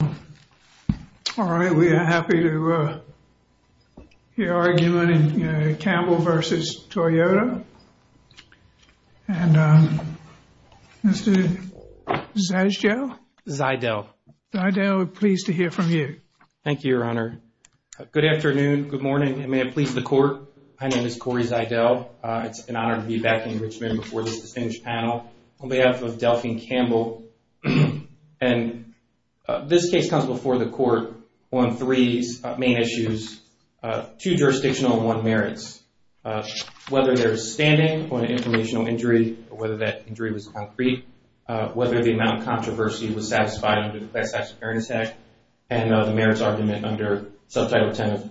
All right, we are happy to hear argument in Campbell v. Toyota. And Mr. Zydell. Zydell. Zydell, we're pleased to hear from you. Thank you, Your Honor. Good afternoon. Good morning. And may it please the court. My name is Corey Zydell. It's an honor to be back in Richmond before this distinguished panel on behalf of Delphine Campbell. And this case comes before the court on three main issues, two jurisdictional and one merits. Whether there's standing on an informational injury or whether that injury was concrete, whether the amount of controversy was satisfied under the Class Action Fairness Act and the merits argument under Subtitle 10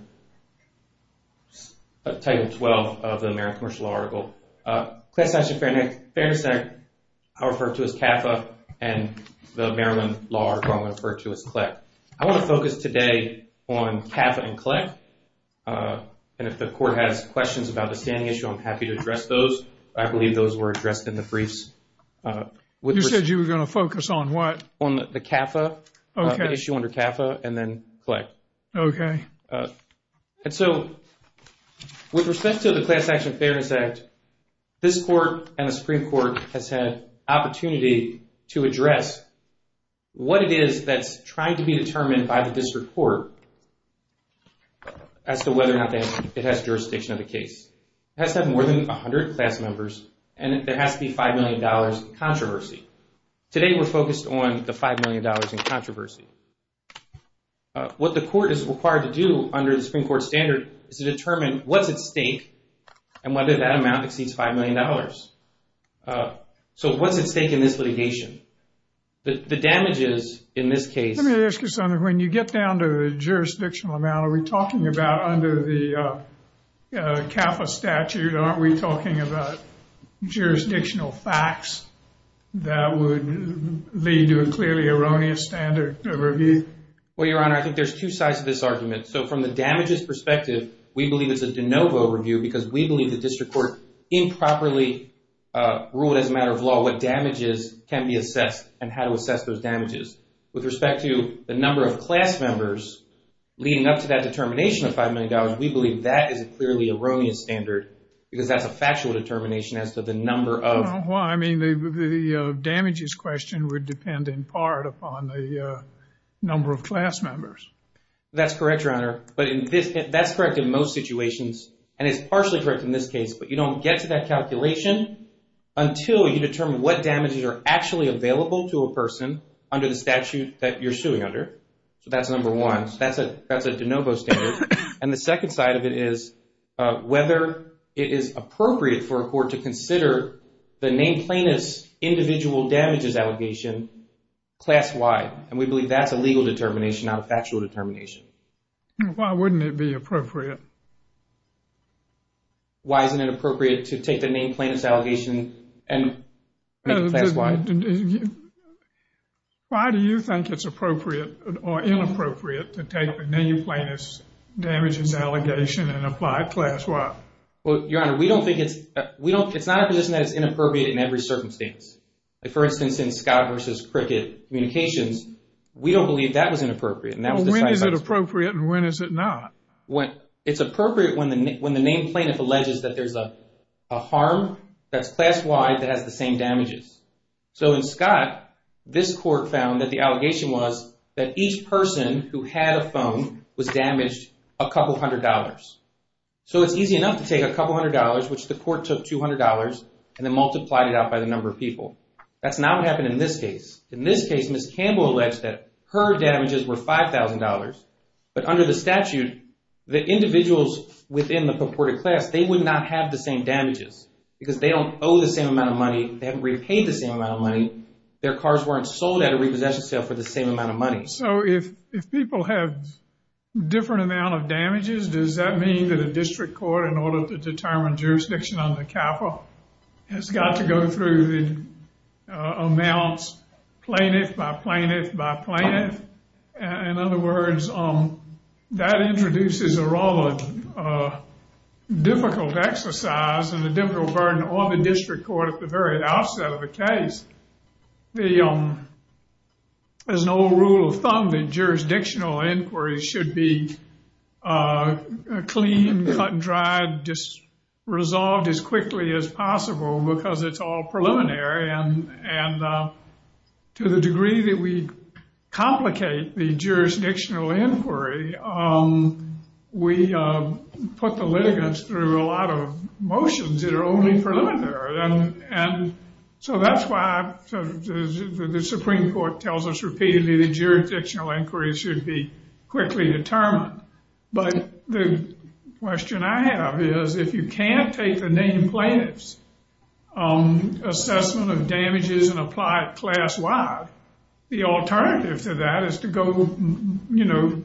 of, Title 12 of the Merit Commercial Law Article. Class Action Fairness Act, I'll refer to as CAFA and the Merit Law Article, I'll refer to as CLEC. I want to focus today on CAFA and CLEC. And if the court has questions about the standing issue, I'm happy to address those. I believe those were addressed in the briefs. You said you were going to focus on what? On the CAFA, the issue under CAFA and then CLEC. Okay. And so, with respect to the Class Action Fairness Act, this court and the Supreme Court has had opportunity to address what it is that's trying to be determined by the district court as to whether or not it has jurisdiction of the case. It has to have more than 100 class members and there has to be $5 million in controversy. Today, we're focused on the $5 million in controversy. What the court is required to do under the Supreme Court standard is to determine what's at stake and whether that amount exceeds $5 million. So, what's at stake in this litigation? The damages in this case... Let me ask you something. When you get down to the jurisdictional amount, are we talking about under the CAFA statute, aren't we talking about jurisdictional facts that would lead to a clearly erroneous standard? Well, Your Honor, I think there's two sides to this argument. So, from the damages perspective, we believe it's a de novo review because we believe the district court improperly ruled as a matter of law what damages can be assessed and how to assess those damages. With respect to the number of class members leading up to that determination of $5 million, we believe that is a clearly erroneous standard because that's a factual determination as to the number of... Well, I mean, the damages question would depend in part upon the number of class members. That's correct, Your Honor, but that's correct in most situations and it's partially correct in this case, but you don't get to that calculation until you determine what damages are actually available to a person under the statute that you're suing under. So, that's number one. That's a de novo standard. And the second side of it is whether it is appropriate for a court to consider the name plainness individual damages allegation class-wide. And we believe that's a legal determination, not a factual determination. Why wouldn't it be appropriate? Why isn't it appropriate to take the name plainness allegation and make it class-wide? Why do you think it's appropriate or inappropriate to take the name plainness damages allegation and apply it class-wide? Well, Your Honor, we don't think it's... It's not a position that it's inappropriate in every circumstance. Like, for instance, in Scott versus Cricket communications, we don't believe that was inappropriate. When is it appropriate and when is it not? It's appropriate when the name plaintiff alleges that there's a harm that's class-wide that has the same damages. So, in Scott, this court found that the allegation was that each person who had a phone was damaged a couple hundred dollars. So, it's easy enough to take a couple hundred dollars, which the court took $200 and then multiplied it out by the number of people. That's not what happened in this case. In this case, Ms. Campbell alleged that her damages were $5,000. But under the statute, the individuals within the purported class, they would not have the same damages because they don't owe the same amount of money. They haven't repaid the same amount of money. Their cars weren't sold at a repossession sale for the same amount of money. So, if people have different amount of damages, does that mean that a district court, in order to determine jurisdiction under CAFA, has got to go through the amounts plaintiff by plaintiff by plaintiff? In other words, that introduces a rather difficult exercise and a difficult burden on the district court at the very outset of the case. There's an old rule of thumb that jurisdictional inquiries should be clean, cut and dried, resolved as quickly as possible because it's all preliminary and to the degree that we complicate the jurisdictional inquiry, we put the litigants through a lot of motions that are only preliminary. And so that's why the Supreme Court tells us repeatedly that jurisdictional inquiries should be quickly determined. But the question I have is if you can't take the named plaintiffs assessment of damages and apply it class-wide, the alternative to that is to go, you know,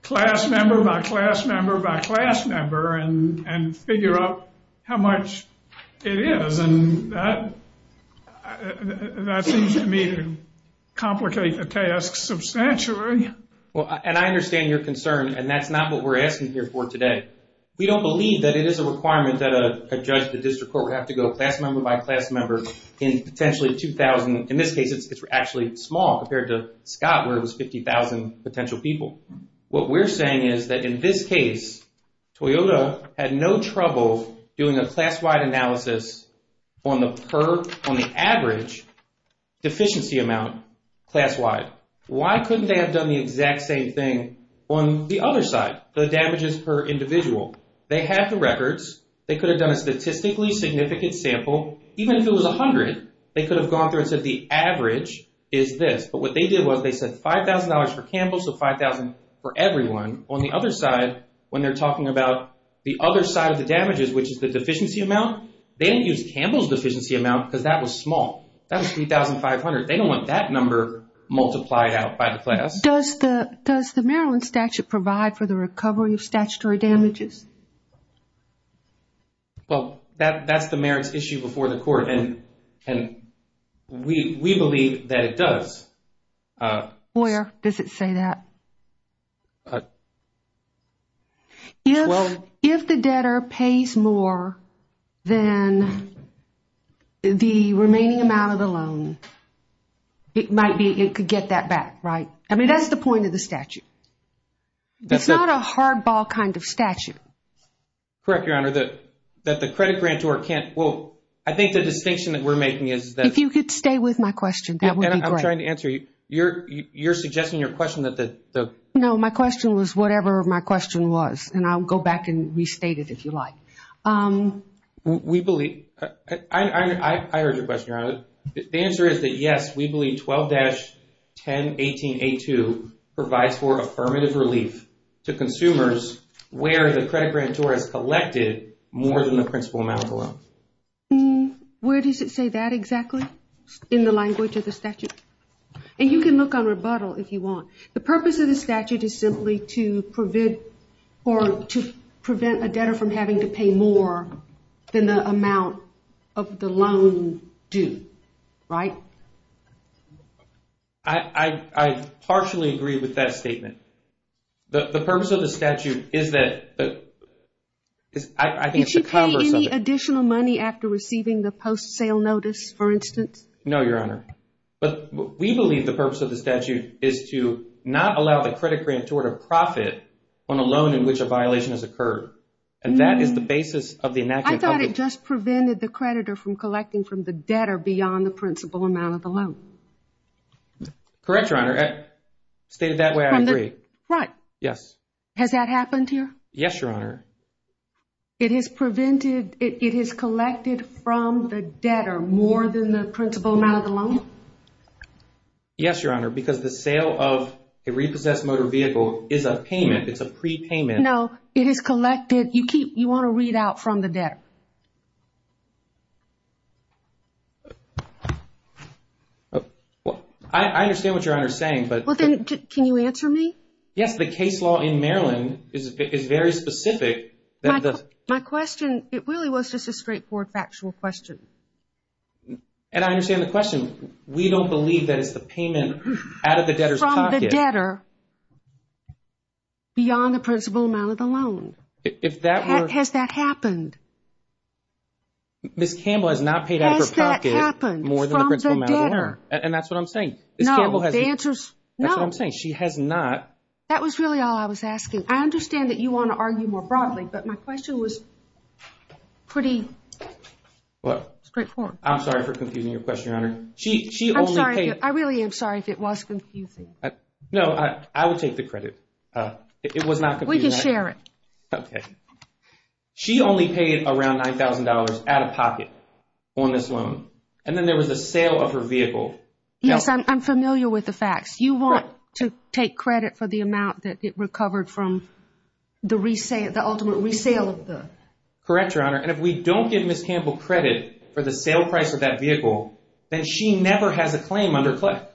class member by class member by class member and figure out how much it is and that seems to me to complicate the task substantially. Well, and I understand your concern and that's not what we're asking here for today. We don't believe that it is a requirement that a judge, the district court, would have to go class member by class member in potentially 2,000. In this case, it's actually small compared to Scott where it was 50,000 potential people. What we're saying is that in this case Toyota had no trouble doing a class-wide analysis on the average deficiency amount class-wide. Why couldn't they have done the exact same thing on the other side, the damages per individual? They had the records, they could have done a statistically significant sample, even if it was 100, they could have gone through and said the average is this. But what they did was they said $5,000 for Campbell, so $5,000 for everyone. On the other side, when they're talking about the other side of the damages, which is the deficiency amount, they didn't use Campbell's deficiency amount because that was small. That was 3,500. They don't want that number multiplied out by the class. Does the Maryland statute provide for the recovery of statutory damages? Well, that's the merits issue before the court and we believe that it does. Where does it say that? If the debtor pays more than the remaining amount of the loan, it might be it could get that back, right? I mean, that's the point of the statute. It's not a hardball kind of statute. Correct, Your Honor. That the credit grantor can't, well, I think the distinction that we're making is that... If you could stay with my question, that would be great. I'm trying to answer you. You're suggesting your question that the... No, my question was whatever my question was, and I'll go back and restate it if you like. We believe... I heard your question, Your Honor. The answer is that yes, we believe 12-1018A2 provides for affirmative relief to consumers where the credit grantor has collected more than the principal amount of the loan. Where does it say that exactly? In the language of the statute? And you can look on rebuttal if you want. The purpose of the statute is simply to prevent or to prevent a debtor from having to pay more than the amount of the loan due. Right? I partially agree with that statement. The purpose of the statute is that... I think it's the commerce of it. Did she pay any additional money after receiving the post-sale notice, for instance? No, Your Honor. But we believe the purpose of the statute is to not allow the credit grantor to profit on a loan in which a violation has occurred. And that is the basis of the enactment. I thought it just prevented the creditor from collecting from the debtor beyond the principal amount of the loan. Correct, Your Honor. Stated that way, I agree. Right. Yes. Has that happened here? Yes, Your Honor. It has prevented... It has collected from the debtor more than the principal amount of the loan? Yes, Your Honor, because the sale of a repossessed motor vehicle is a payment. It's a prepayment. No, it is collected. You want to read out from the debtor. I understand what Your Honor is saying, but... Well, then can you answer me? Yes, the case law in Maryland is very specific that the... My question, it really was just a straightforward factual question. And I understand the question. We don't believe that it's the payment out of the debtor's pocket. From the debtor beyond the principal amount of the loan. Has that happened? Ms. Campbell has not paid out of her pocket more than the principal amount of the loan. Has that happened from the debtor? And that's what I'm saying. No, the answer's no. That's what I'm saying. She has not... That was really all I was asking. I understand that you want to argue more broadly, but my question was pretty straightforward. I'm sorry for confusing your question, Your Honor. She only paid... I'm sorry. I really am sorry if it was confusing. No, I would take the credit. It was not confusing. We can share it. Okay. She only paid around $9,000 out of pocket on this loan. And then there was a sale of her vehicle. Yes, I'm familiar with the facts. You want to take credit for the amount that it recovered from the ultimate resale of the... Correct, Your Honor. And if we don't give Ms. Campbell credit for the sale price of that vehicle, then she never has a claim under CLIC.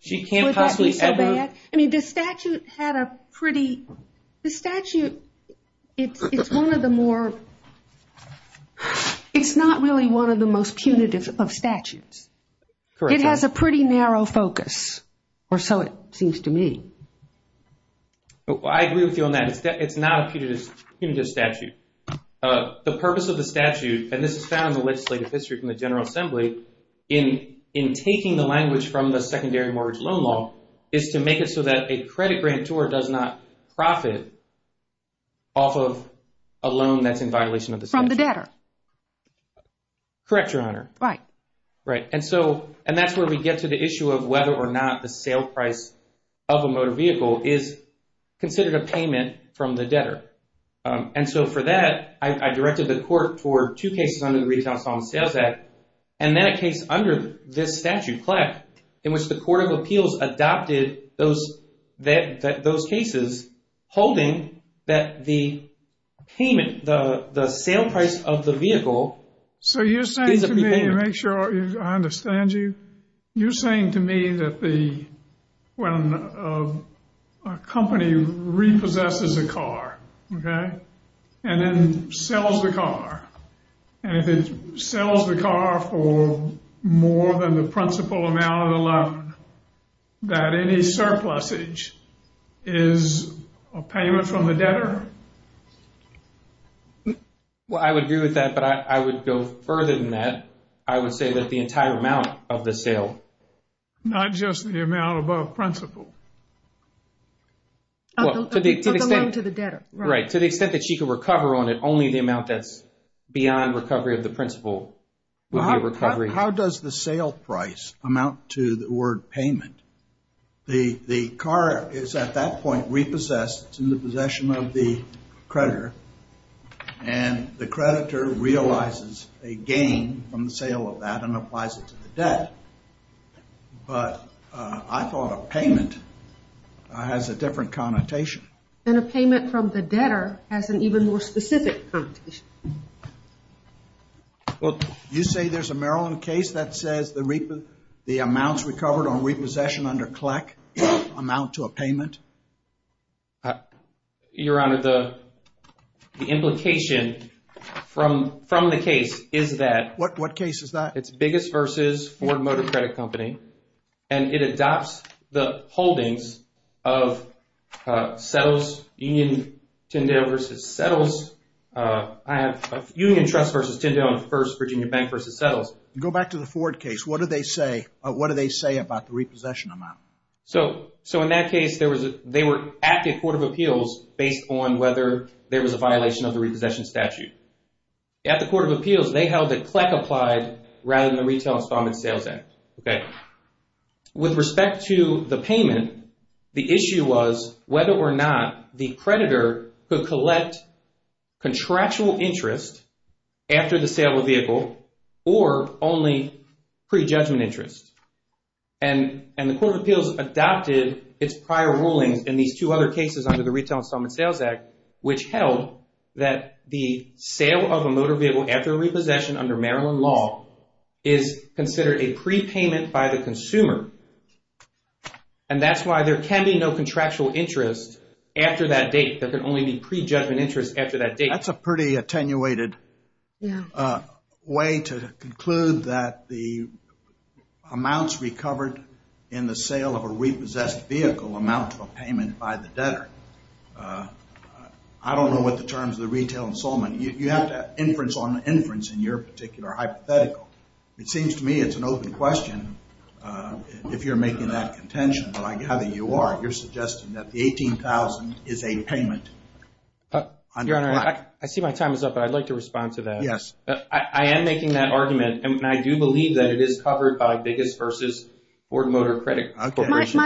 She can't possibly ever... Would that be so bad? I mean, the statute had a pretty... The statute... It's one of the more... It's not really one of the most punitive of statutes. It has a pretty narrow focus, or so it seems to me. I agree with you on that. It's not a punitive statute. The purpose of the statute, and this is found in the legislative history from the General Assembly, in taking the language from the secondary mortgage loan law, is to make it so that a credit grantor does not profit off of a loan that's in violation of the statute. From the debtor. Correct, Your Honor. Right. Right. And that's where we get to the issue of whether or not the sale price of a motor vehicle is considered a payment from the debtor. And so for that, I directed the court toward two cases under the Retail Assault and Sales Act, and that case under this statute, CLIC, in which the Court of Appeals adopted those cases holding that the payment, the sale price of the vehicle, is a payment. So you're saying to me, to make sure I understand you, you're saying to me that the... when a company repossesses a car, okay, and then sells the car, and if it sells the car for more than the principal amount of the loan, that any surplusage is a payment from the debtor, right? Well, I would agree with that, but I would go further than that. I would say that the entire amount of the sale, not just the amount above principal, of the loan to the debtor. Right. To the extent that she could recover on it, only the amount that's beyond recovery of the principal would be a recovery. How does the sale price amount to the word payment? The car is at that point repossessed. It's in the possession of the creditor, and the creditor realizes a gain from the sale of that and applies it to the debt. But I thought a payment has a different connotation. And a payment from the debtor has an even more specific connotation. Well, you say there's a Maryland case that says the amounts recovered on repossession under CLEC amount to a payment? Your Honor, the implication from the case is that. What case is that? It's Biggest vs. Ford Motor Credit Company, and it adopts the holdings of Settles, Union, Tyndale vs. Settles. I have Union Trust vs. Tyndale, and First Virginia Bank vs. Settles. Go back to the Ford case. What do they say? What do they say about the repossession amount? So in that case, they were at the Court of Appeals based on whether there was a violation of the repossession statute. At the Court of Appeals, they held that CLEC applied rather than the Retail Installment Sales Act. With respect to the payment, the issue was whether or not the creditor could collect contractual interest after the sale of a vehicle or only pre-judgment interest. And the Court of Appeals adopted its prior rulings in these two other cases under the Retail Installment Sales Act, which held that the sale of a motor vehicle after repossession under Maryland law is considered a prepayment by the consumer. And that's why there can be no contractual interest after that date. There can only be pre-judgment interest after that date. That's a pretty attenuated way to conclude that the amounts recovered in the sale of a repossessed vehicle amount to a payment by the debtor. I don't know what the terms of the Retail Installment. You have to inference on the inference in your particular hypothetical. It seems to me it's an open question if you're making that contention, but I gather you are. You're suggesting that the $18,000 is a payment. Your Honor, I see my time is up, but I'd like to respond to that. I am making that argument, and I do believe that it is covered by Biggis v. Ford Motor Credit Corporation.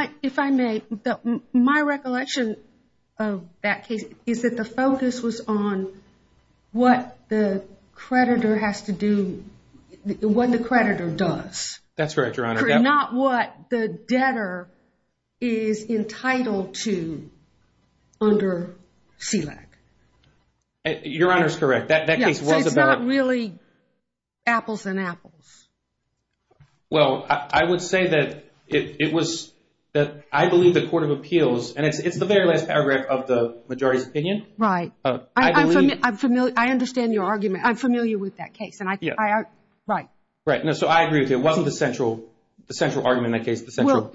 My recollection of that case is that the focus was on what the creditor has to do, what the creditor does. That's right, Your Honor. Not what the debtor is entitled to under SELAC. Your Honor is correct. That case was about... It's not really apples and apples. Well, I would say that it was that I believe the Court of Appeals, and it's the very last paragraph of the majority's opinion. Right. I believe... I'm familiar. I understand your argument. I'm familiar with that case, and I... Right. Right. No, so I agree with you. It wasn't the central argument in that case, the central...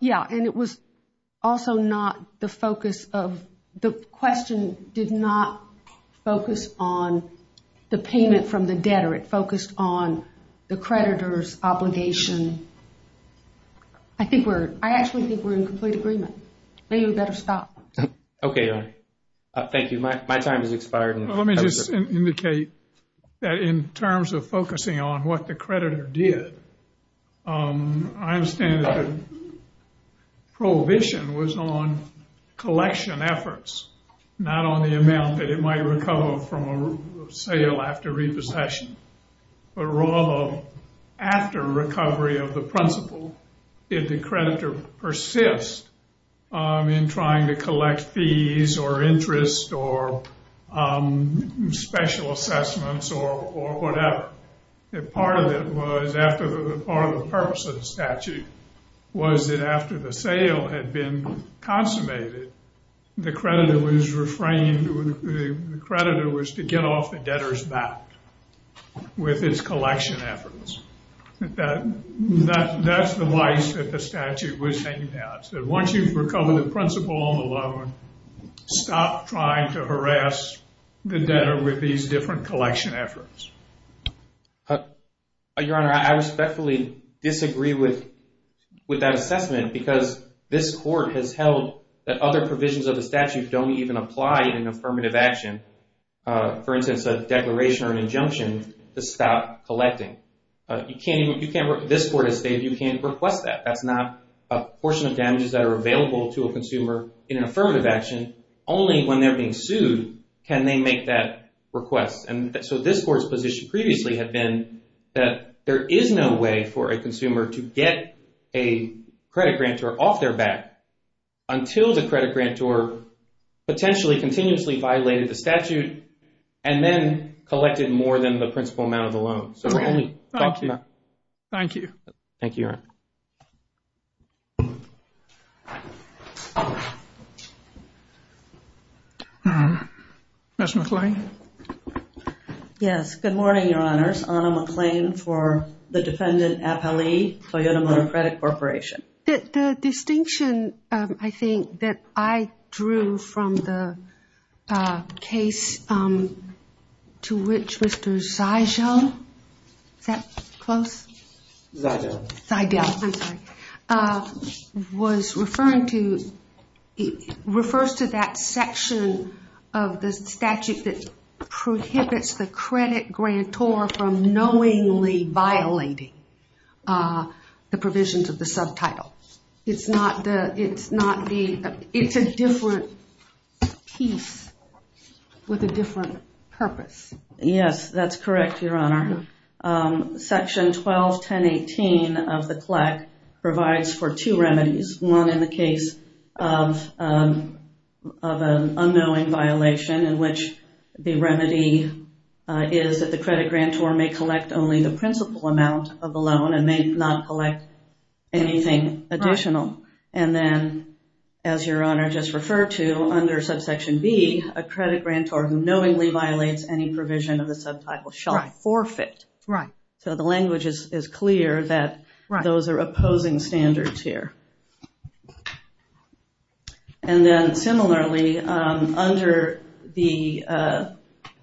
Yeah, and it was also not the focus of... The question did not focus on the payment from the debtor. It focused on the creditor's obligation. I think we're... I actually think we're in complete agreement. Maybe we better stop. Okay, Your Honor. Thank you. My time has expired. Let me just indicate that in terms of focusing on what the creditor did, I understand that the prohibition was on collection efforts, not on the amount that it might recover from a sale after repossession, but rather after recovery of the principal, did the creditor persist in trying to collect fees or interest or special assessments or whatever. That part of it was, after the part of the purpose of the statute, was that after the sale had been consummated, the creditor was refrained... The creditor was to get off the debtor's back with its collection efforts. That's the vice that the statute was hanging out. Once you've recovered the principal on the loan, stop trying to harass the debtor with these different collection efforts. Your Honor, I respectfully disagree with that assessment because this court has held that other provisions of the statute don't even apply in an affirmative action. For instance, a declaration or an injunction to stop collecting. This court has stated you can't request that. That's not a portion of damages that are available to a consumer in an affirmative action. Only when they're being sued can they make that request. And so this court's position previously had been that there is no way for a consumer to get a credit grantor off their back until the credit grantor potentially continuously violated the statute and then collected more than the principal amount of the loan. So we're only... Thank you. Thank you, Your Honor. Ms. McClain. Yes, good morning, Your Honors. Anna McClain for the defendant Appellee, Toyota Motor Credit Corporation. The distinction I think that I drew from the case to which Mr. Zijel Is that close? Zijel. Zijel, I'm sorry. Was referring to it refers to that section of the statute that prohibits the credit grantor from knowingly violating the provisions of the subtitle. It's not the... it's not the... it's a different piece with a different purpose. Yes, that's correct, Your Honor. Section 12-1018 of the CLEC provides for two remedies. One in the case of of an unknowing violation in which the remedy is that the credit grantor may collect only the principal amount of the loan and may not collect anything additional. And then as Your Honor just referred to under subsection B, a credit grantor who knowingly violates any provision of the subtitle shall forfeit. Right. So the language is clear that those are opposing standards here. And then similarly under the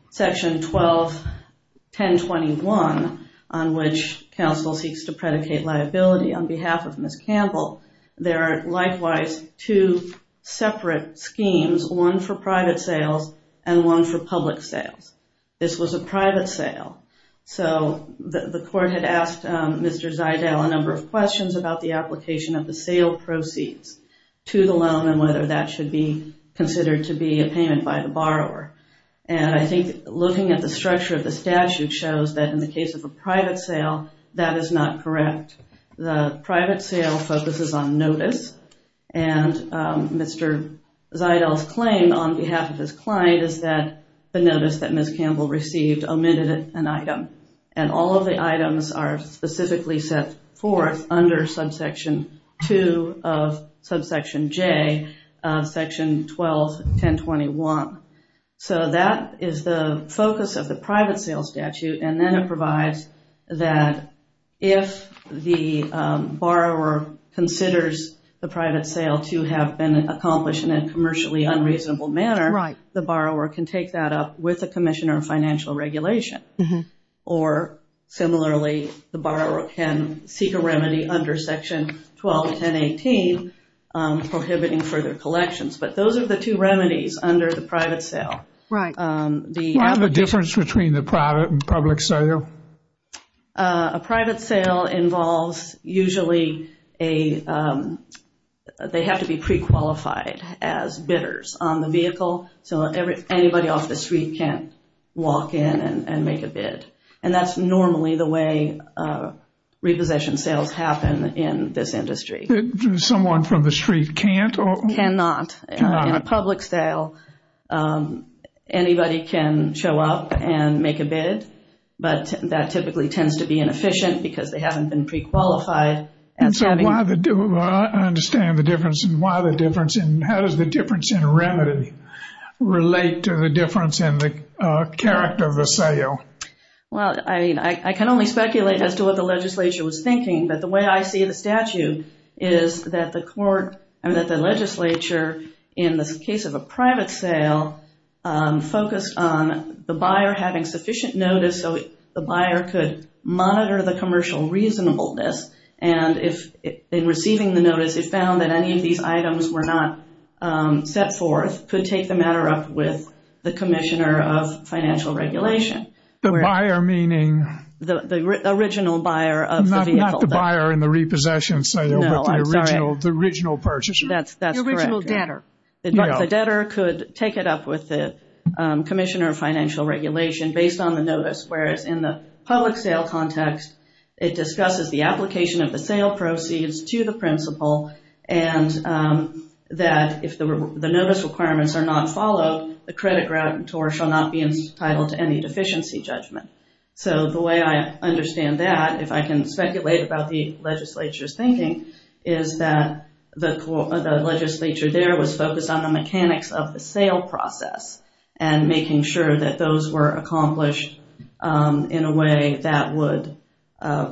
section 12-1021 on which counsel seeks to predicate liability on behalf of Ms. Campbell, there are likewise two separate schemes, one for private sales and one for public sales. This was a private sale. So the court had asked Mr. Zijel a number of questions about the application of the sale proceeds. To the loan and whether that should be considered to be a payment by the borrower. And I think looking at the structure of the statute shows that in the case of a private sale, that is not correct. The private sale focuses on notice. And Mr. Zijel's claim on behalf of his client is that the notice that Ms. Campbell received omitted an item. And all of the items are specifically set forth under subsection 2 of subsection J of section 12-1021. So that is the focus of the private sale statute and then it provides that if the borrower considers the private sale to have been accomplished in a commercially unreasonable manner, the borrower can take that up with a commission or financial regulation. Or similarly, the borrower can seek a remedy under section 12-1018 prohibiting further collections. But those are the two remedies under the private sale. Right. Do you have a difference between the private and public sale? A private sale involves usually a they have to be pre-qualified as bidders on the vehicle. So anybody off the street can't walk in and make a bid. And that's normally the way repossession sales happen in this industry. Someone from the street can't? Cannot. In a public sale, anybody can show up and make a bid. But that typically tends to be inefficient because they haven't been pre-qualified. And so why the difference? I understand the difference and why the difference and how does the difference in remedy relate to the difference in the character of the sale? Well, I mean, I can only speculate as to what the legislature was thinking, but the way I see the statute is that the court and that the legislature in the case of a private sale focused on the buyer having sufficient notice so the buyer could monitor the commercial reasonableness. And if in receiving the notice it found that any of these items were not set forth could take the matter up with the commissioner of financial regulation. The buyer meaning the original buyer of the vehicle. Not the buyer in the repossession sale. No, I'm sorry. The original purchaser. That's correct. The original debtor. The debtor could take it up with the commissioner of financial regulation based on the notice whereas in the public sale context it discusses the application of the sale proceeds to the principal and that if the notice requirements are not followed the credit grantor shall not be entitled to any deficiency judgment. So the way I understand that if I can speculate about the legislature's thinking is that the legislature there was focused on the mechanics of the sale process and making sure that those were accomplished in a way that would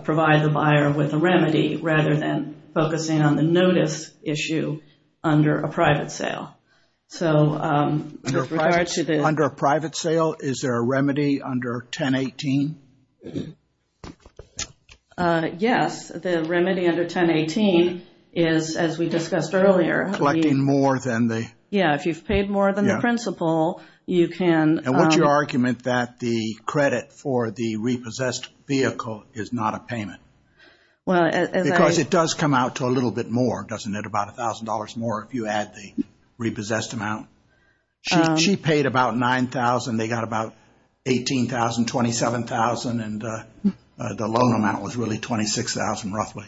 provide the buyer with a remedy rather than focusing on the notice issue under a private sale. So, Under a private sale, is there a remedy under 1018? Yes, the remedy under 1018 is as we discussed earlier. Collecting more than the. Yeah, if you've paid more than the principal you can. And what's your argument that the credit for the repossessed vehicle is not a payment? Well, because it does come out to a little bit more, doesn't it? About a thousand dollars more if you add the repossessed amount. She paid about nine thousand. They got about 18,000, 27,000 and the loan amount was really 26,000 roughly.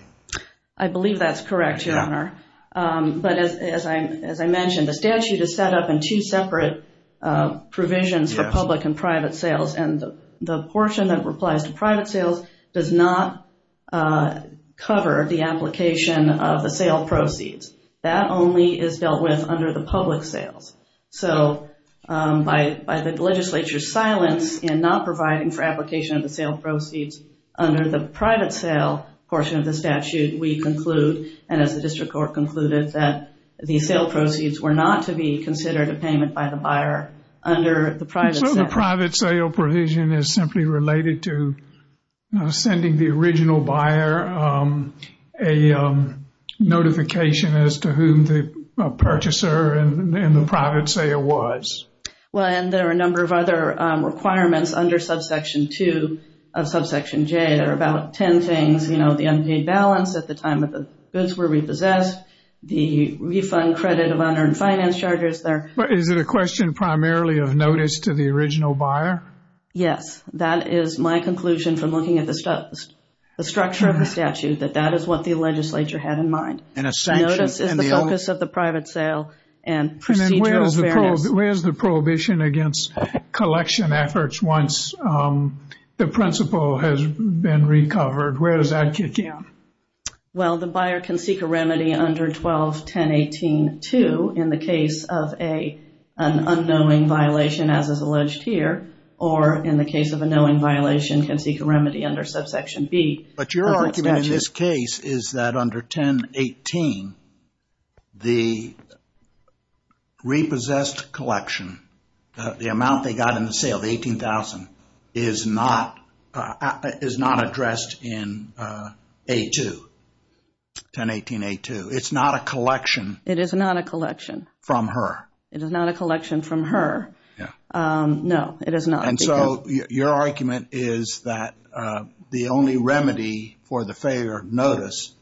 I believe that's correct your honor. But as I mentioned the statute is set up in two separate provisions for public and private sales and the portion that replies to private sales does not cover the application of the sale proceeds. That only is dealt with under the public sales. So, by the legislature's silence in not providing for application of the sale proceeds under the private sale portion of the statute we conclude and as the district court concluded that the sale proceeds were not to be considered a payment by the buyer under the private sale. So the private sale provision is simply related to sending the original buyer a notification as to whom the purchaser and the private sale was. Well, and there are a number of other requirements under subsection 2 of subsection J. There are about 10 things, you know, the unpaid balance at the time that the goods were repossessed, the refund credit of unearned finance charges. But is it a question primarily of notice to the original buyer? Yes, that is my conclusion from looking at the the structure of the statute that that is what the legislature had in mind. Notice is the focus of the private sale and procedural fairness. Where's the prohibition against collection efforts once the principal has been recovered? Where does that kick in? Well, the buyer can seek a remedy under 12-1018-2 in the case of a an unknowing violation as is alleged here or in the case of a knowing violation can seek a remedy under subsection B. But your argument in this case is that under 1018, the repossessed collection, the amount they got in the sale, the 18,000, is not is not addressed in 1018-A-2. 1018-A-2. It's not a collection. It is not a collection. From her. It is not a collection from her. Yeah. No, it is not. And so your argument is that the only remedy for the failure of notice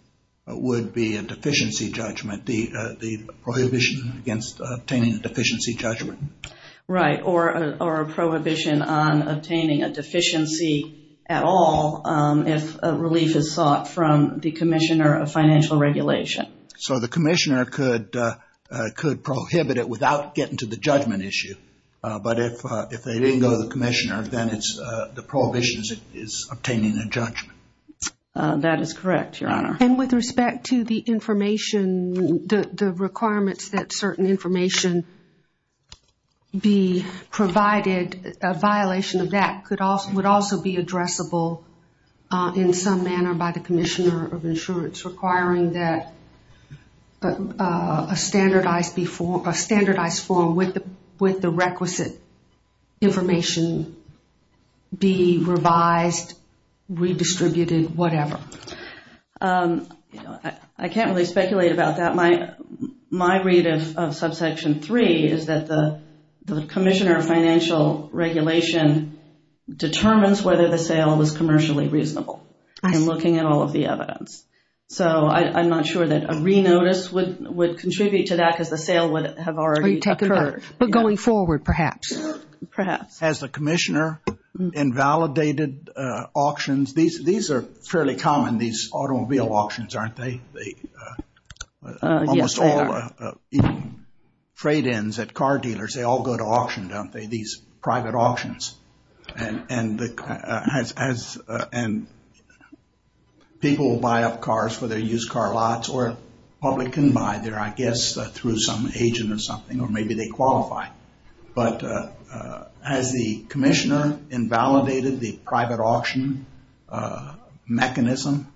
would be a deficiency judgment, the prohibition against obtaining a deficiency judgment. Right, or a prohibition on obtaining a deficiency at all if a relief is sought from the commissioner of financial regulation. So the commissioner could could prohibit it without getting to the judgment issue. But if they didn't go to the commissioner, then it's the prohibition is obtaining a judgment. That is correct, your honor. And with respect to the information, the requirements that certain information be provided, a violation of that could also would also be addressable in some manner by the commissioner of insurance requiring that a standardized form with the requisite information be revised, redistributed, whatever. I can't really speculate about that. My read of subsection three is that the the commissioner of financial regulation determines whether the sale was commercially reasonable. I'm looking at all of the evidence. So I'm not sure that a re-notice would contribute to that because the sale would have already occurred. But going forward perhaps. Perhaps. Has the commissioner invalidated auctions? These are fairly common, these automobile auctions, aren't they? Yes, they are. Trade-ins at car dealers, they all go to auction, don't they? These private auctions. And people will buy up cars for their used car lots or public can buy their, I guess, through some agent or something or maybe they qualify. But has the commissioner invalidated the private auction mechanism?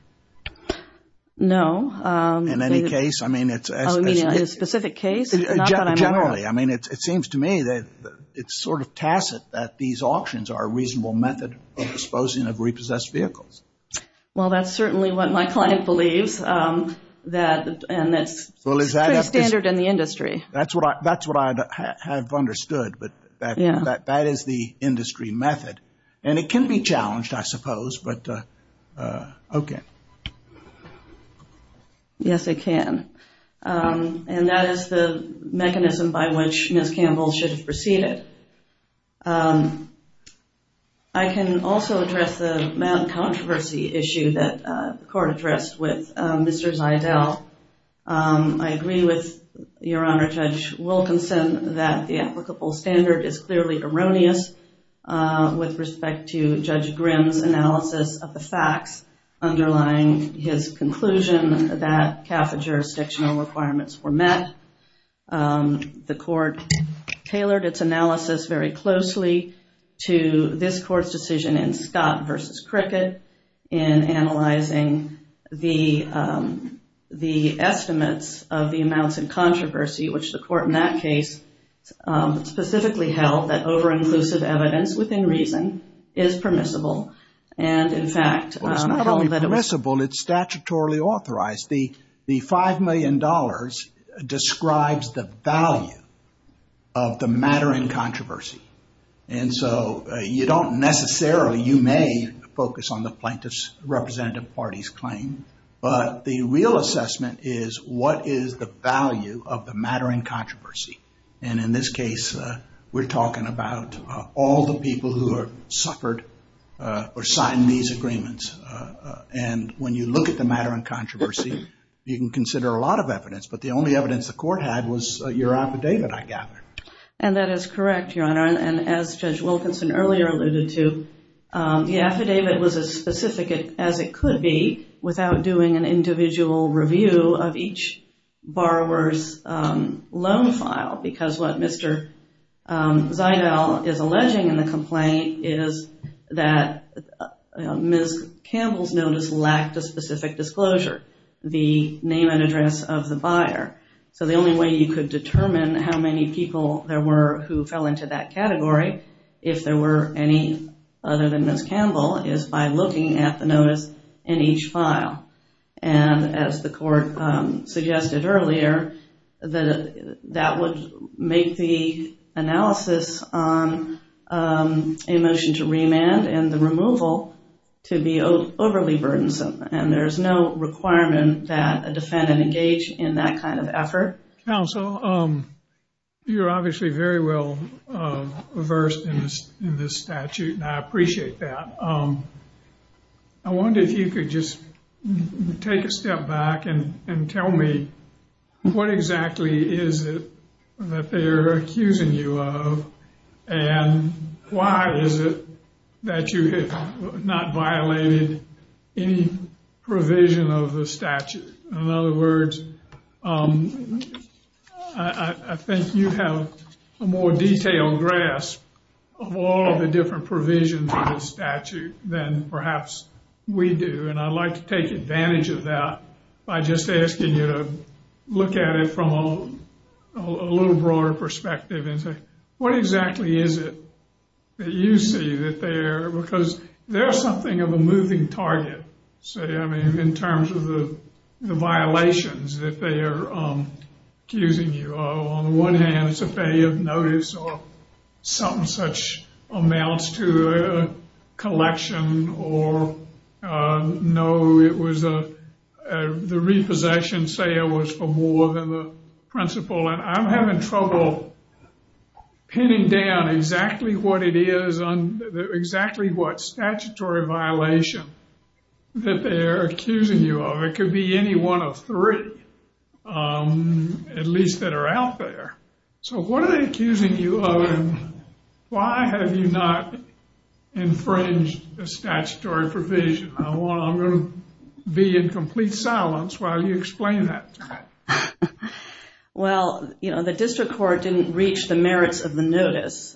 No. In any case, I mean, it's a specific case. Generally, I mean, it seems to me that it's sort of tacit that these auctions are a reasonable method of disposing of repossessed vehicles. Well, that's certainly what my client believes. That and that's pretty standard in the industry. That's what I have understood. But that is the industry method and it can be challenged, I suppose, but okay. Yes, it can. And that is the mechanism by which Ms. Campbell should have proceeded. I can also address the controversy issue that the court addressed with Mr. Zeidel. I agree with Your Honor, Judge Wilkinson, that the applicable standard is clearly erroneous with respect to Judge Grimm's analysis of the facts underlying his conclusion that CAFA jurisdictional requirements were met. The court tailored its analysis very closely to this court's decision in Scott v. Cricket in analyzing the estimates of the amounts in controversy, which the court in that case specifically held that over-inclusive evidence within reason is permissible. And in fact, it's not only permissible, it's statutorily authorized. The five million dollars describes the value of the matter in controversy. And so you don't necessarily, you may focus on the plaintiff's representative party's claim, but the real assessment is what is the value of the matter in controversy. And in this case, we're talking about all the people who have suffered or signed these agreements. And when you look at the matter in controversy, you can consider a lot of evidence, but the only evidence the court had was your affidavit, I gather. And that is correct, Your Honor. And as Judge Wilkinson earlier alluded to, the affidavit was as specific as it could be without doing an individual review of each borrower's loan file, because what Mr. Ziedle is alleging in the complaint is that Ms. Campbell's notice lacked a specific disclosure, the name and address of the buyer. So the only way you could determine how many people there were who fell into that category, if there were any other than Ms. Campbell, is by looking at the notice in each file. And as the court suggested earlier, that would make the analysis on a motion to remand and the removal to be overly burdensome. And there's no requirement that a defendant engage in that kind of effort. Counsel, you're obviously very well versed in this statute, and I appreciate that. I wonder if you could just take a step back and tell me what exactly is it that they're accusing you of? And why is it that you have not violated any provision of the statute? In other words, I think you have a more detailed grasp of all the different provisions of the statute than perhaps we do. And I'd like to take advantage of that by just asking you to look at it from a little broader perspective and say, what exactly is it that you see that they're, because they're something of a moving target, say, I mean, in terms of the violations that they are accusing you of. On the one hand, it's a failure of notice or something such amounts to a collection or no, it was a the repossession, say, was for more than the principal. And I'm having trouble pinning down exactly what it is on exactly what statutory violation that they're accusing you of. It could be any one of three, at least that are out there. So what are they accusing you of? Why have you not infringed the statutory provision? I want, I'm going to be in complete silence while you explain that. Well, you know, the district court didn't reach the merits of the notice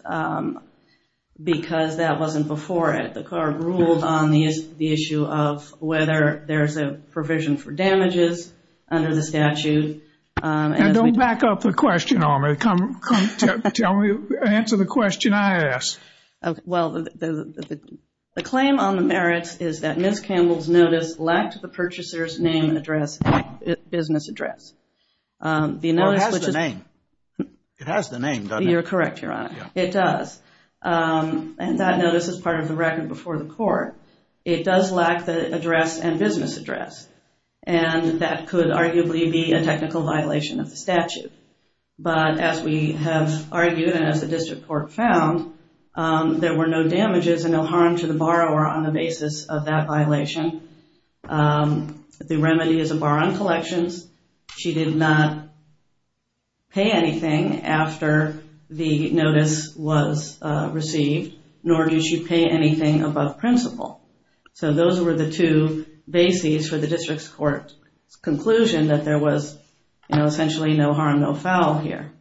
because that wasn't before it. The court ruled on the issue of whether there's a provision for damages under the statute. And don't back up the question on me. Come, tell me, answer the question I asked. Well, the claim on the merits is that Ms. Campbell's notice lacked the purchaser's name and address and business address. Well, it has the name. It has the name, doesn't it? You're correct, Your Honor. It does. And that notice is part of the record before the court. It does lack the address and business address. And that could arguably be a technical violation of the statute. But as we have argued and as the district court found, there were no damages and no harm to the borrower on the basis of that violation. The remedy is a bar on collections. She did not pay anything after the notice was received, nor did she pay anything above principle. So those were the two bases for the district's court conclusion that there was, you know, essentially no harm, no foul here.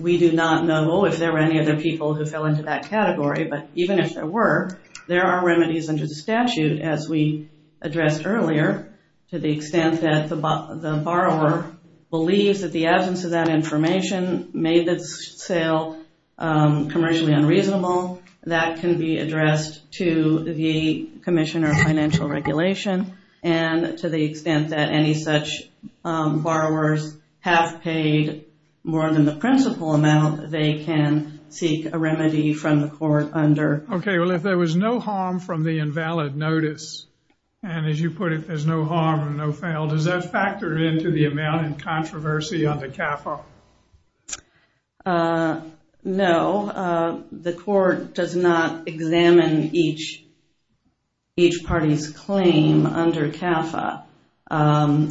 We do not know if there were any other people who fell into that category, but even if there were, there are remedies under the statute, as we addressed earlier, to the extent that the borrower believes that the absence of that information made this sale commercially unreasonable. That can be addressed to the Commissioner of Financial Regulation and to the extent that any such borrowers have paid more than the principal amount, they can seek a remedy from the court under. Okay. Well, if there was no harm from the invalid notice, and as you put it, there's no harm and no foul, does that factor into the amount in controversy under CAFA? No, the court does not examine each each party's claim under CAFA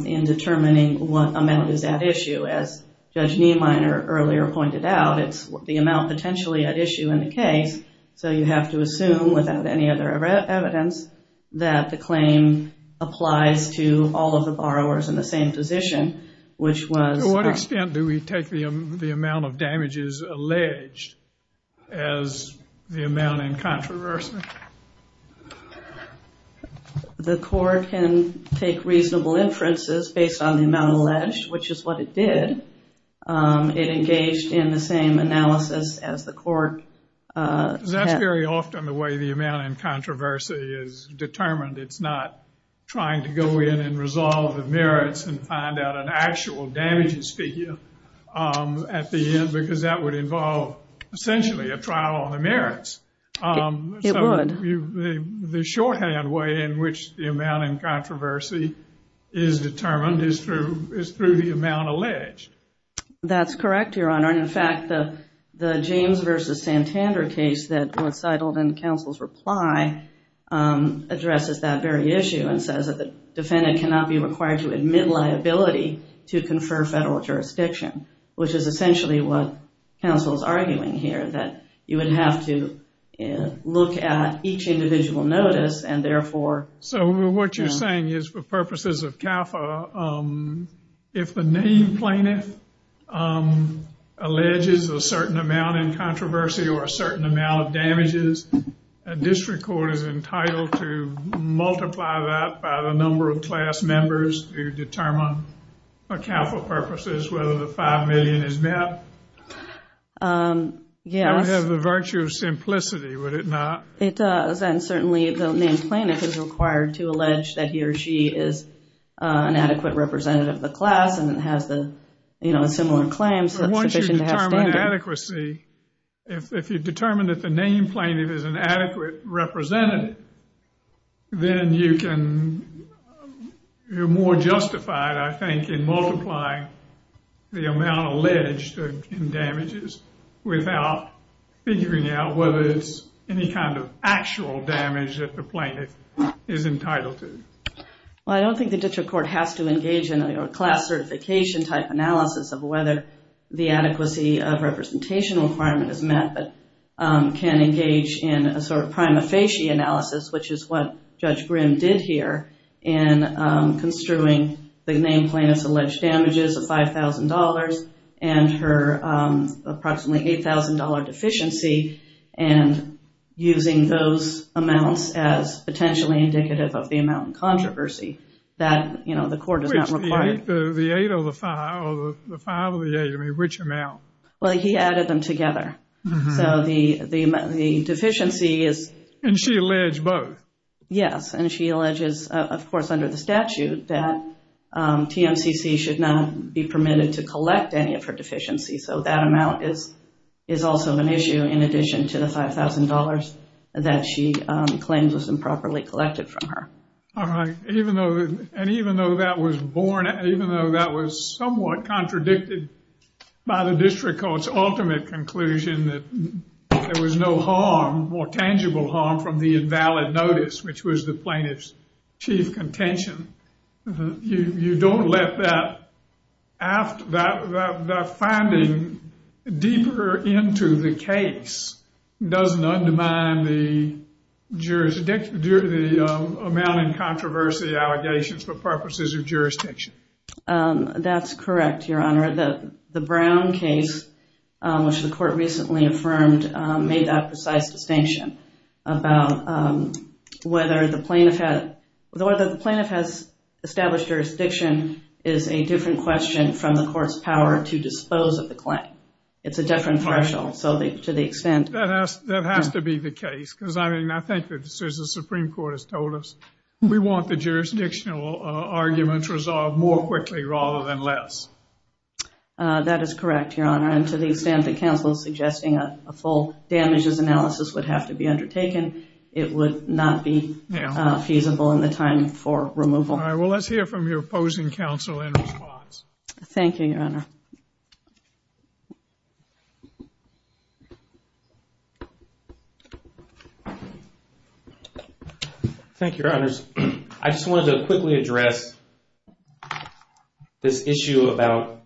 in determining what amount is at issue. As Judge Niemeyer earlier pointed out, it's the amount potentially at issue in the case. So you have to assume without any other evidence that the claim applies to all of the borrowers in the same position, which was... To what extent do we take the amount of damages alleged as the amount in controversy? The court can take reasonable inferences based on the amount alleged, which is what it did. It engaged in the same analysis as the court. Because that's very often the way the amount in controversy is determined. It's not trying to go in and resolve the merits and find out an actual damages figure at the end because that would involve essentially a trial on the merits. It would. The shorthand way in which the amount in controversy is determined is through the amount alleged. That's correct, Your Honor. And in fact, the James v. Santander case that was titled in counsel's reply addresses that very issue and says that the defendant cannot be required to admit liability to confer federal jurisdiction, which is essentially what counsel's arguing here, that you would have to look at each individual notice and therefore... So what you're saying is for purposes of CAFA, if the name plaintiff alleges a certain amount in controversy or a certain amount of damages, a district court is entitled to multiply that by the number of class members to determine for CAFA purposes whether the five million is met. Yes. That would have the virtue of simplicity, would it not? It does. And certainly the name plaintiff is required to allege that he or she is an adequate representative of the class and has the, you know, similar claims that's sufficient to have standards. If you determine that the name plaintiff is an adequate representative, then you can... You're more justified, I think, in multiplying the amount alleged in damages without figuring out whether it's any kind of actual damage that the plaintiff is entitled to. Well, I don't think the district court has to engage in a class certification type analysis of whether the adequacy of representation requirement is met, but can engage in a sort of prima facie analysis, which is what Judge Brim did here in construing the name plaintiff's alleged damages of $5,000 and her approximately $8,000 deficiency and using those amounts as potentially indicative of the amount in controversy that, you know, the court does not require. The eight or the five, or the five or the eight, I mean, which amount? Well, he added them together. So the deficiency is... And she alleged both? Yes, and she alleges, of course, under the statute that TMCC should not be permitted to collect any of her deficiencies. So that amount is is also an issue in addition to the $5,000 that she claims was improperly collected from her. All right, even though, and even though that was born, even though that was somewhat contradicted by the district court's ultimate conclusion that there was no harm, more tangible harm, from the invalid notice, which was the plaintiff's chief contention, you don't let that after that, that finding deeper into the case doesn't undermine the amount in controversy allegations for purposes of jurisdiction. That's correct, Your Honor. The Brown case, which the court recently affirmed, made that precise distinction about whether the plaintiff had, whether the plaintiff has established jurisdiction is a different question from the court's power to dispose of the claim. It's a different threshold. So to the extent... That has to be the case because, I mean, I think that the Supreme Court has told us we want the jurisdictional arguments resolved more quickly rather than less. That is correct, Your Honor. And to the extent that counsel is suggesting a full damages analysis would have to be undertaken, it would not be feasible in the time for removal. All right, well, let's hear from your opposing counsel in response. Thank you, Your Honor. Thank you, Your Honors. I just wanted to quickly address this issue about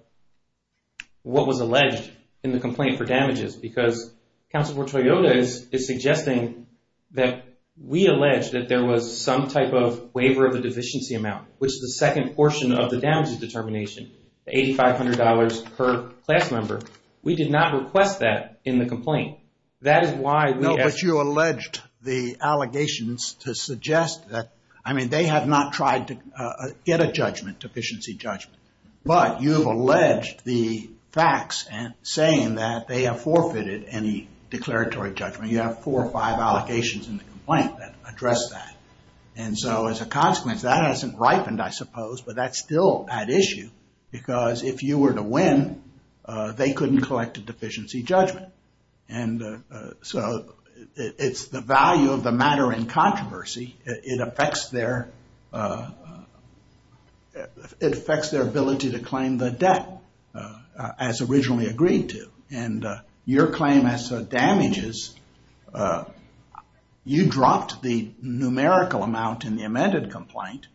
what was alleged in the complaint for damages because Counsel for Toyota is suggesting that we alleged that there was some type of waiver of the deficiency amount, which is the second portion of the damages determination, $8,500 per class member. We did not request that in the complaint. That is why... No, but you alleged the allegations to suggest that, I mean, they have not tried to get a judgment, deficiency judgment, but you've alleged the facts and saying that they have forfeited any declaratory judgment. You have four or five allocations in the complaint that address that. And so as a consequence, that hasn't ripened, I suppose, but that's still at issue because if you were to win, they couldn't collect a deficiency judgment. And so it's the value of the matter in controversy. It affects their ability to claim the debt as originally agreed to. And your claim as to damages, you dropped the numerical amount in the amended complaint.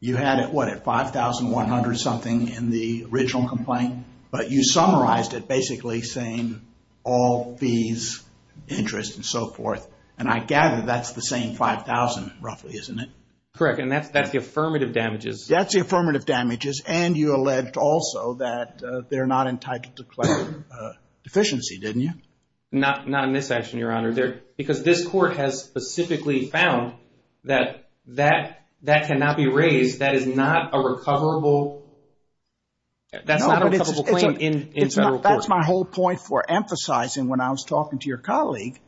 You had it, what, at $5,100 something in the original complaint, but you summarized it basically saying all fees, interest, and so forth. And I gather that's the same $5,000 roughly, isn't it? Correct. And that's the affirmative damages. That's the affirmative damages. And you alleged also that they're not entitled to claim deficiency, didn't you? Not in this action, your honor. Because this court has specifically found that that cannot be raised. That is not a recoverable... That's not a recoverable claim in federal court. That's my whole point for emphasizing when I was talking to your colleague.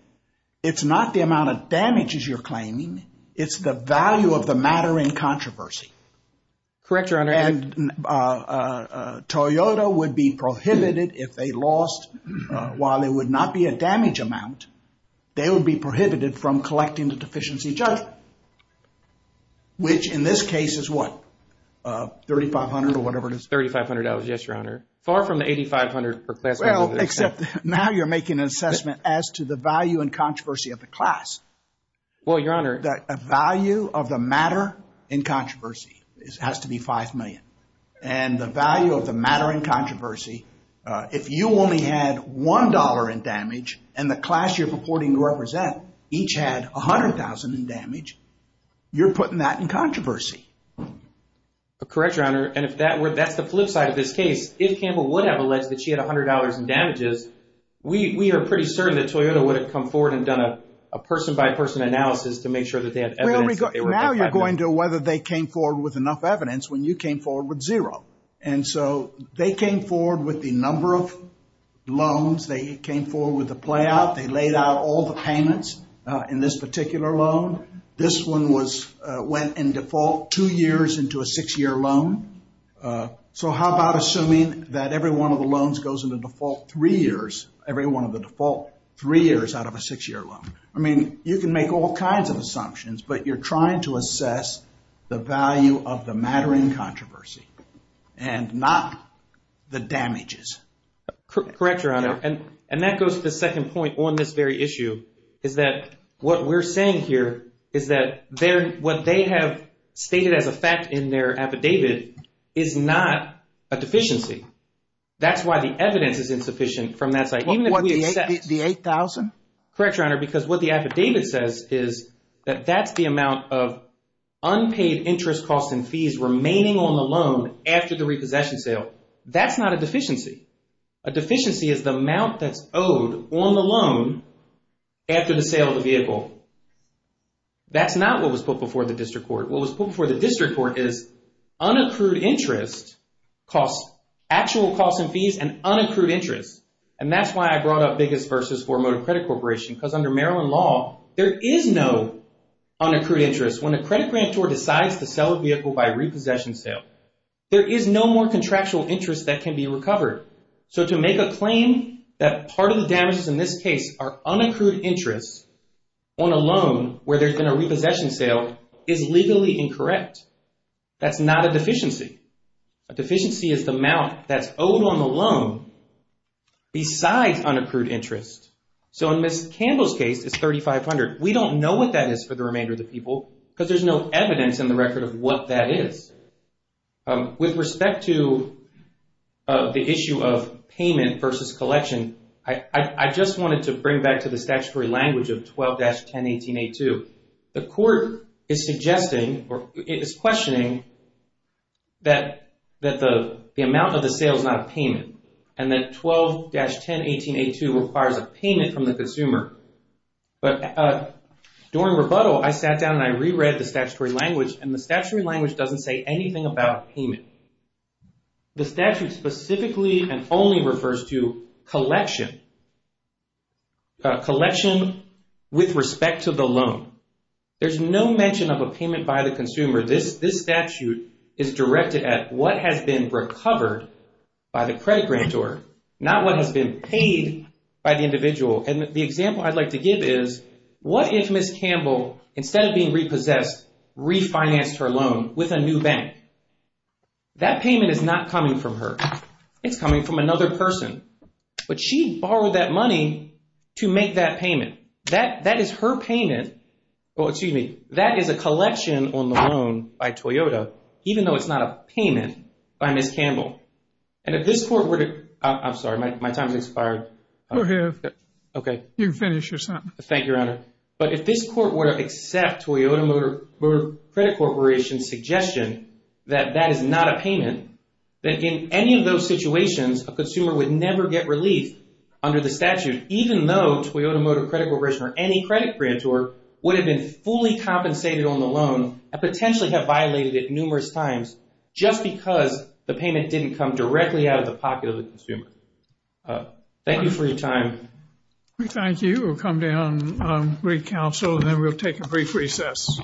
It's not the amount of damages you're claiming. It's the value of the matter in controversy. Correct, your honor. And Toyota would be prohibited if they lost, while it would not be a damage amount, they would be prohibited from collecting the deficiency judgment. Which in this case is what? $3,500 or whatever it is. $3,500. Yes, your honor. Far from the $8,500 per class. Well, except now you're making an assessment as to the value and controversy of the class. Well, your honor. The value of the matter in controversy has to be $5,000,000. And the value of the matter in controversy, if you only had $1 in damage and the class you're purporting to represent each had $100,000 in damage, you're putting that in controversy. Correct, your honor. And if that were, that's the flip side of this case. If Campbell would have alleged that she had $100 in damages, we are pretty certain that Toyota would have come forward and done a person-by-person analysis to make sure that they had evidence. Now you're going to whether they came forward with enough evidence when you came forward with zero. And so they came forward with the number of loans, they came forward with the playout, they laid out all the payments in this particular loan. This one went in default two years into a six-year loan. So how about assuming that every one of the loans goes into default three years, every one of the default three years out of a six-year loan? I mean, you can make all kinds of assumptions, but you're trying to assess the value of the matter in controversy and not the damages. Correct, your honor. And that goes to the second point on this very issue, is that what we're saying here is that what they have stated as a fact in their affidavit is not a deficiency. That's why the evidence is insufficient from that side. What, the $8,000? Correct, your honor, because what the affidavit says is that that's the amount of unpaid interest costs and fees remaining on the loan after the repossession sale. That's not a deficiency. A deficiency is the amount that's owed on the loan after the sale of the vehicle. That's not what was put before the district court. What was put before the district court is unaccrued interest costs, actual costs and fees and unaccrued interest. And that's why I brought up Biggest Versus for Motor Credit Corporation, because under Maryland law, there is no unaccrued interest. When a credit grantor decides to sell a vehicle by repossession sale, there is no more contractual interest that can be recovered. So to make a claim that part of the damages in this case are unaccrued interest on a loan where there's been a repossession sale is legally incorrect. That's not a deficiency. A deficiency is the amount that's owed on the loan besides unaccrued interest. So in Ms. Campbell's case, it's $3,500. We don't know what that is for the remainder of the people because there's no evidence in the record of what that is. With respect to the issue of payment versus collection, I just wanted to bring back to the statutory language of 12-1018-A2. The court is suggesting or it is questioning that the amount of the sale is not a payment and that 12-1018-A2 requires a payment from the consumer. But during rebuttal, I sat down and I reread the statutory language and the statutory language doesn't say anything about payment. The statute specifically and only refers to collection. A collection with respect to the loan. There's no mention of a payment by the consumer. This statute is directed at what has been recovered by the credit grantor, not what has been paid by the individual. And the example I'd like to give is what if Ms. Campbell instead of being repossessed refinanced her loan with a new bank? That payment is not coming from her. It's coming from another person. But she borrowed that money to make that payment. That is her payment. Well, excuse me. That is a collection on the loan by Toyota, even though it's not a payment by Ms. Campbell. And if this court were to, I'm sorry, my time has expired. Go ahead. Okay. You can finish your sentence. Thank you, Your Honor. But if this court were to accept Toyota Credit Corporation's suggestion that that is not a payment, that in any of those situations a consumer would never get relief under the statute, even though Toyota Motor Credit Corporation or any credit grantor would have been fully compensated on the loan and potentially have violated it numerous times just because the payment didn't come directly out of the pocket of the consumer. Thank you for your time. Thank you. We'll come down on re-counsel and then we'll take a brief recess.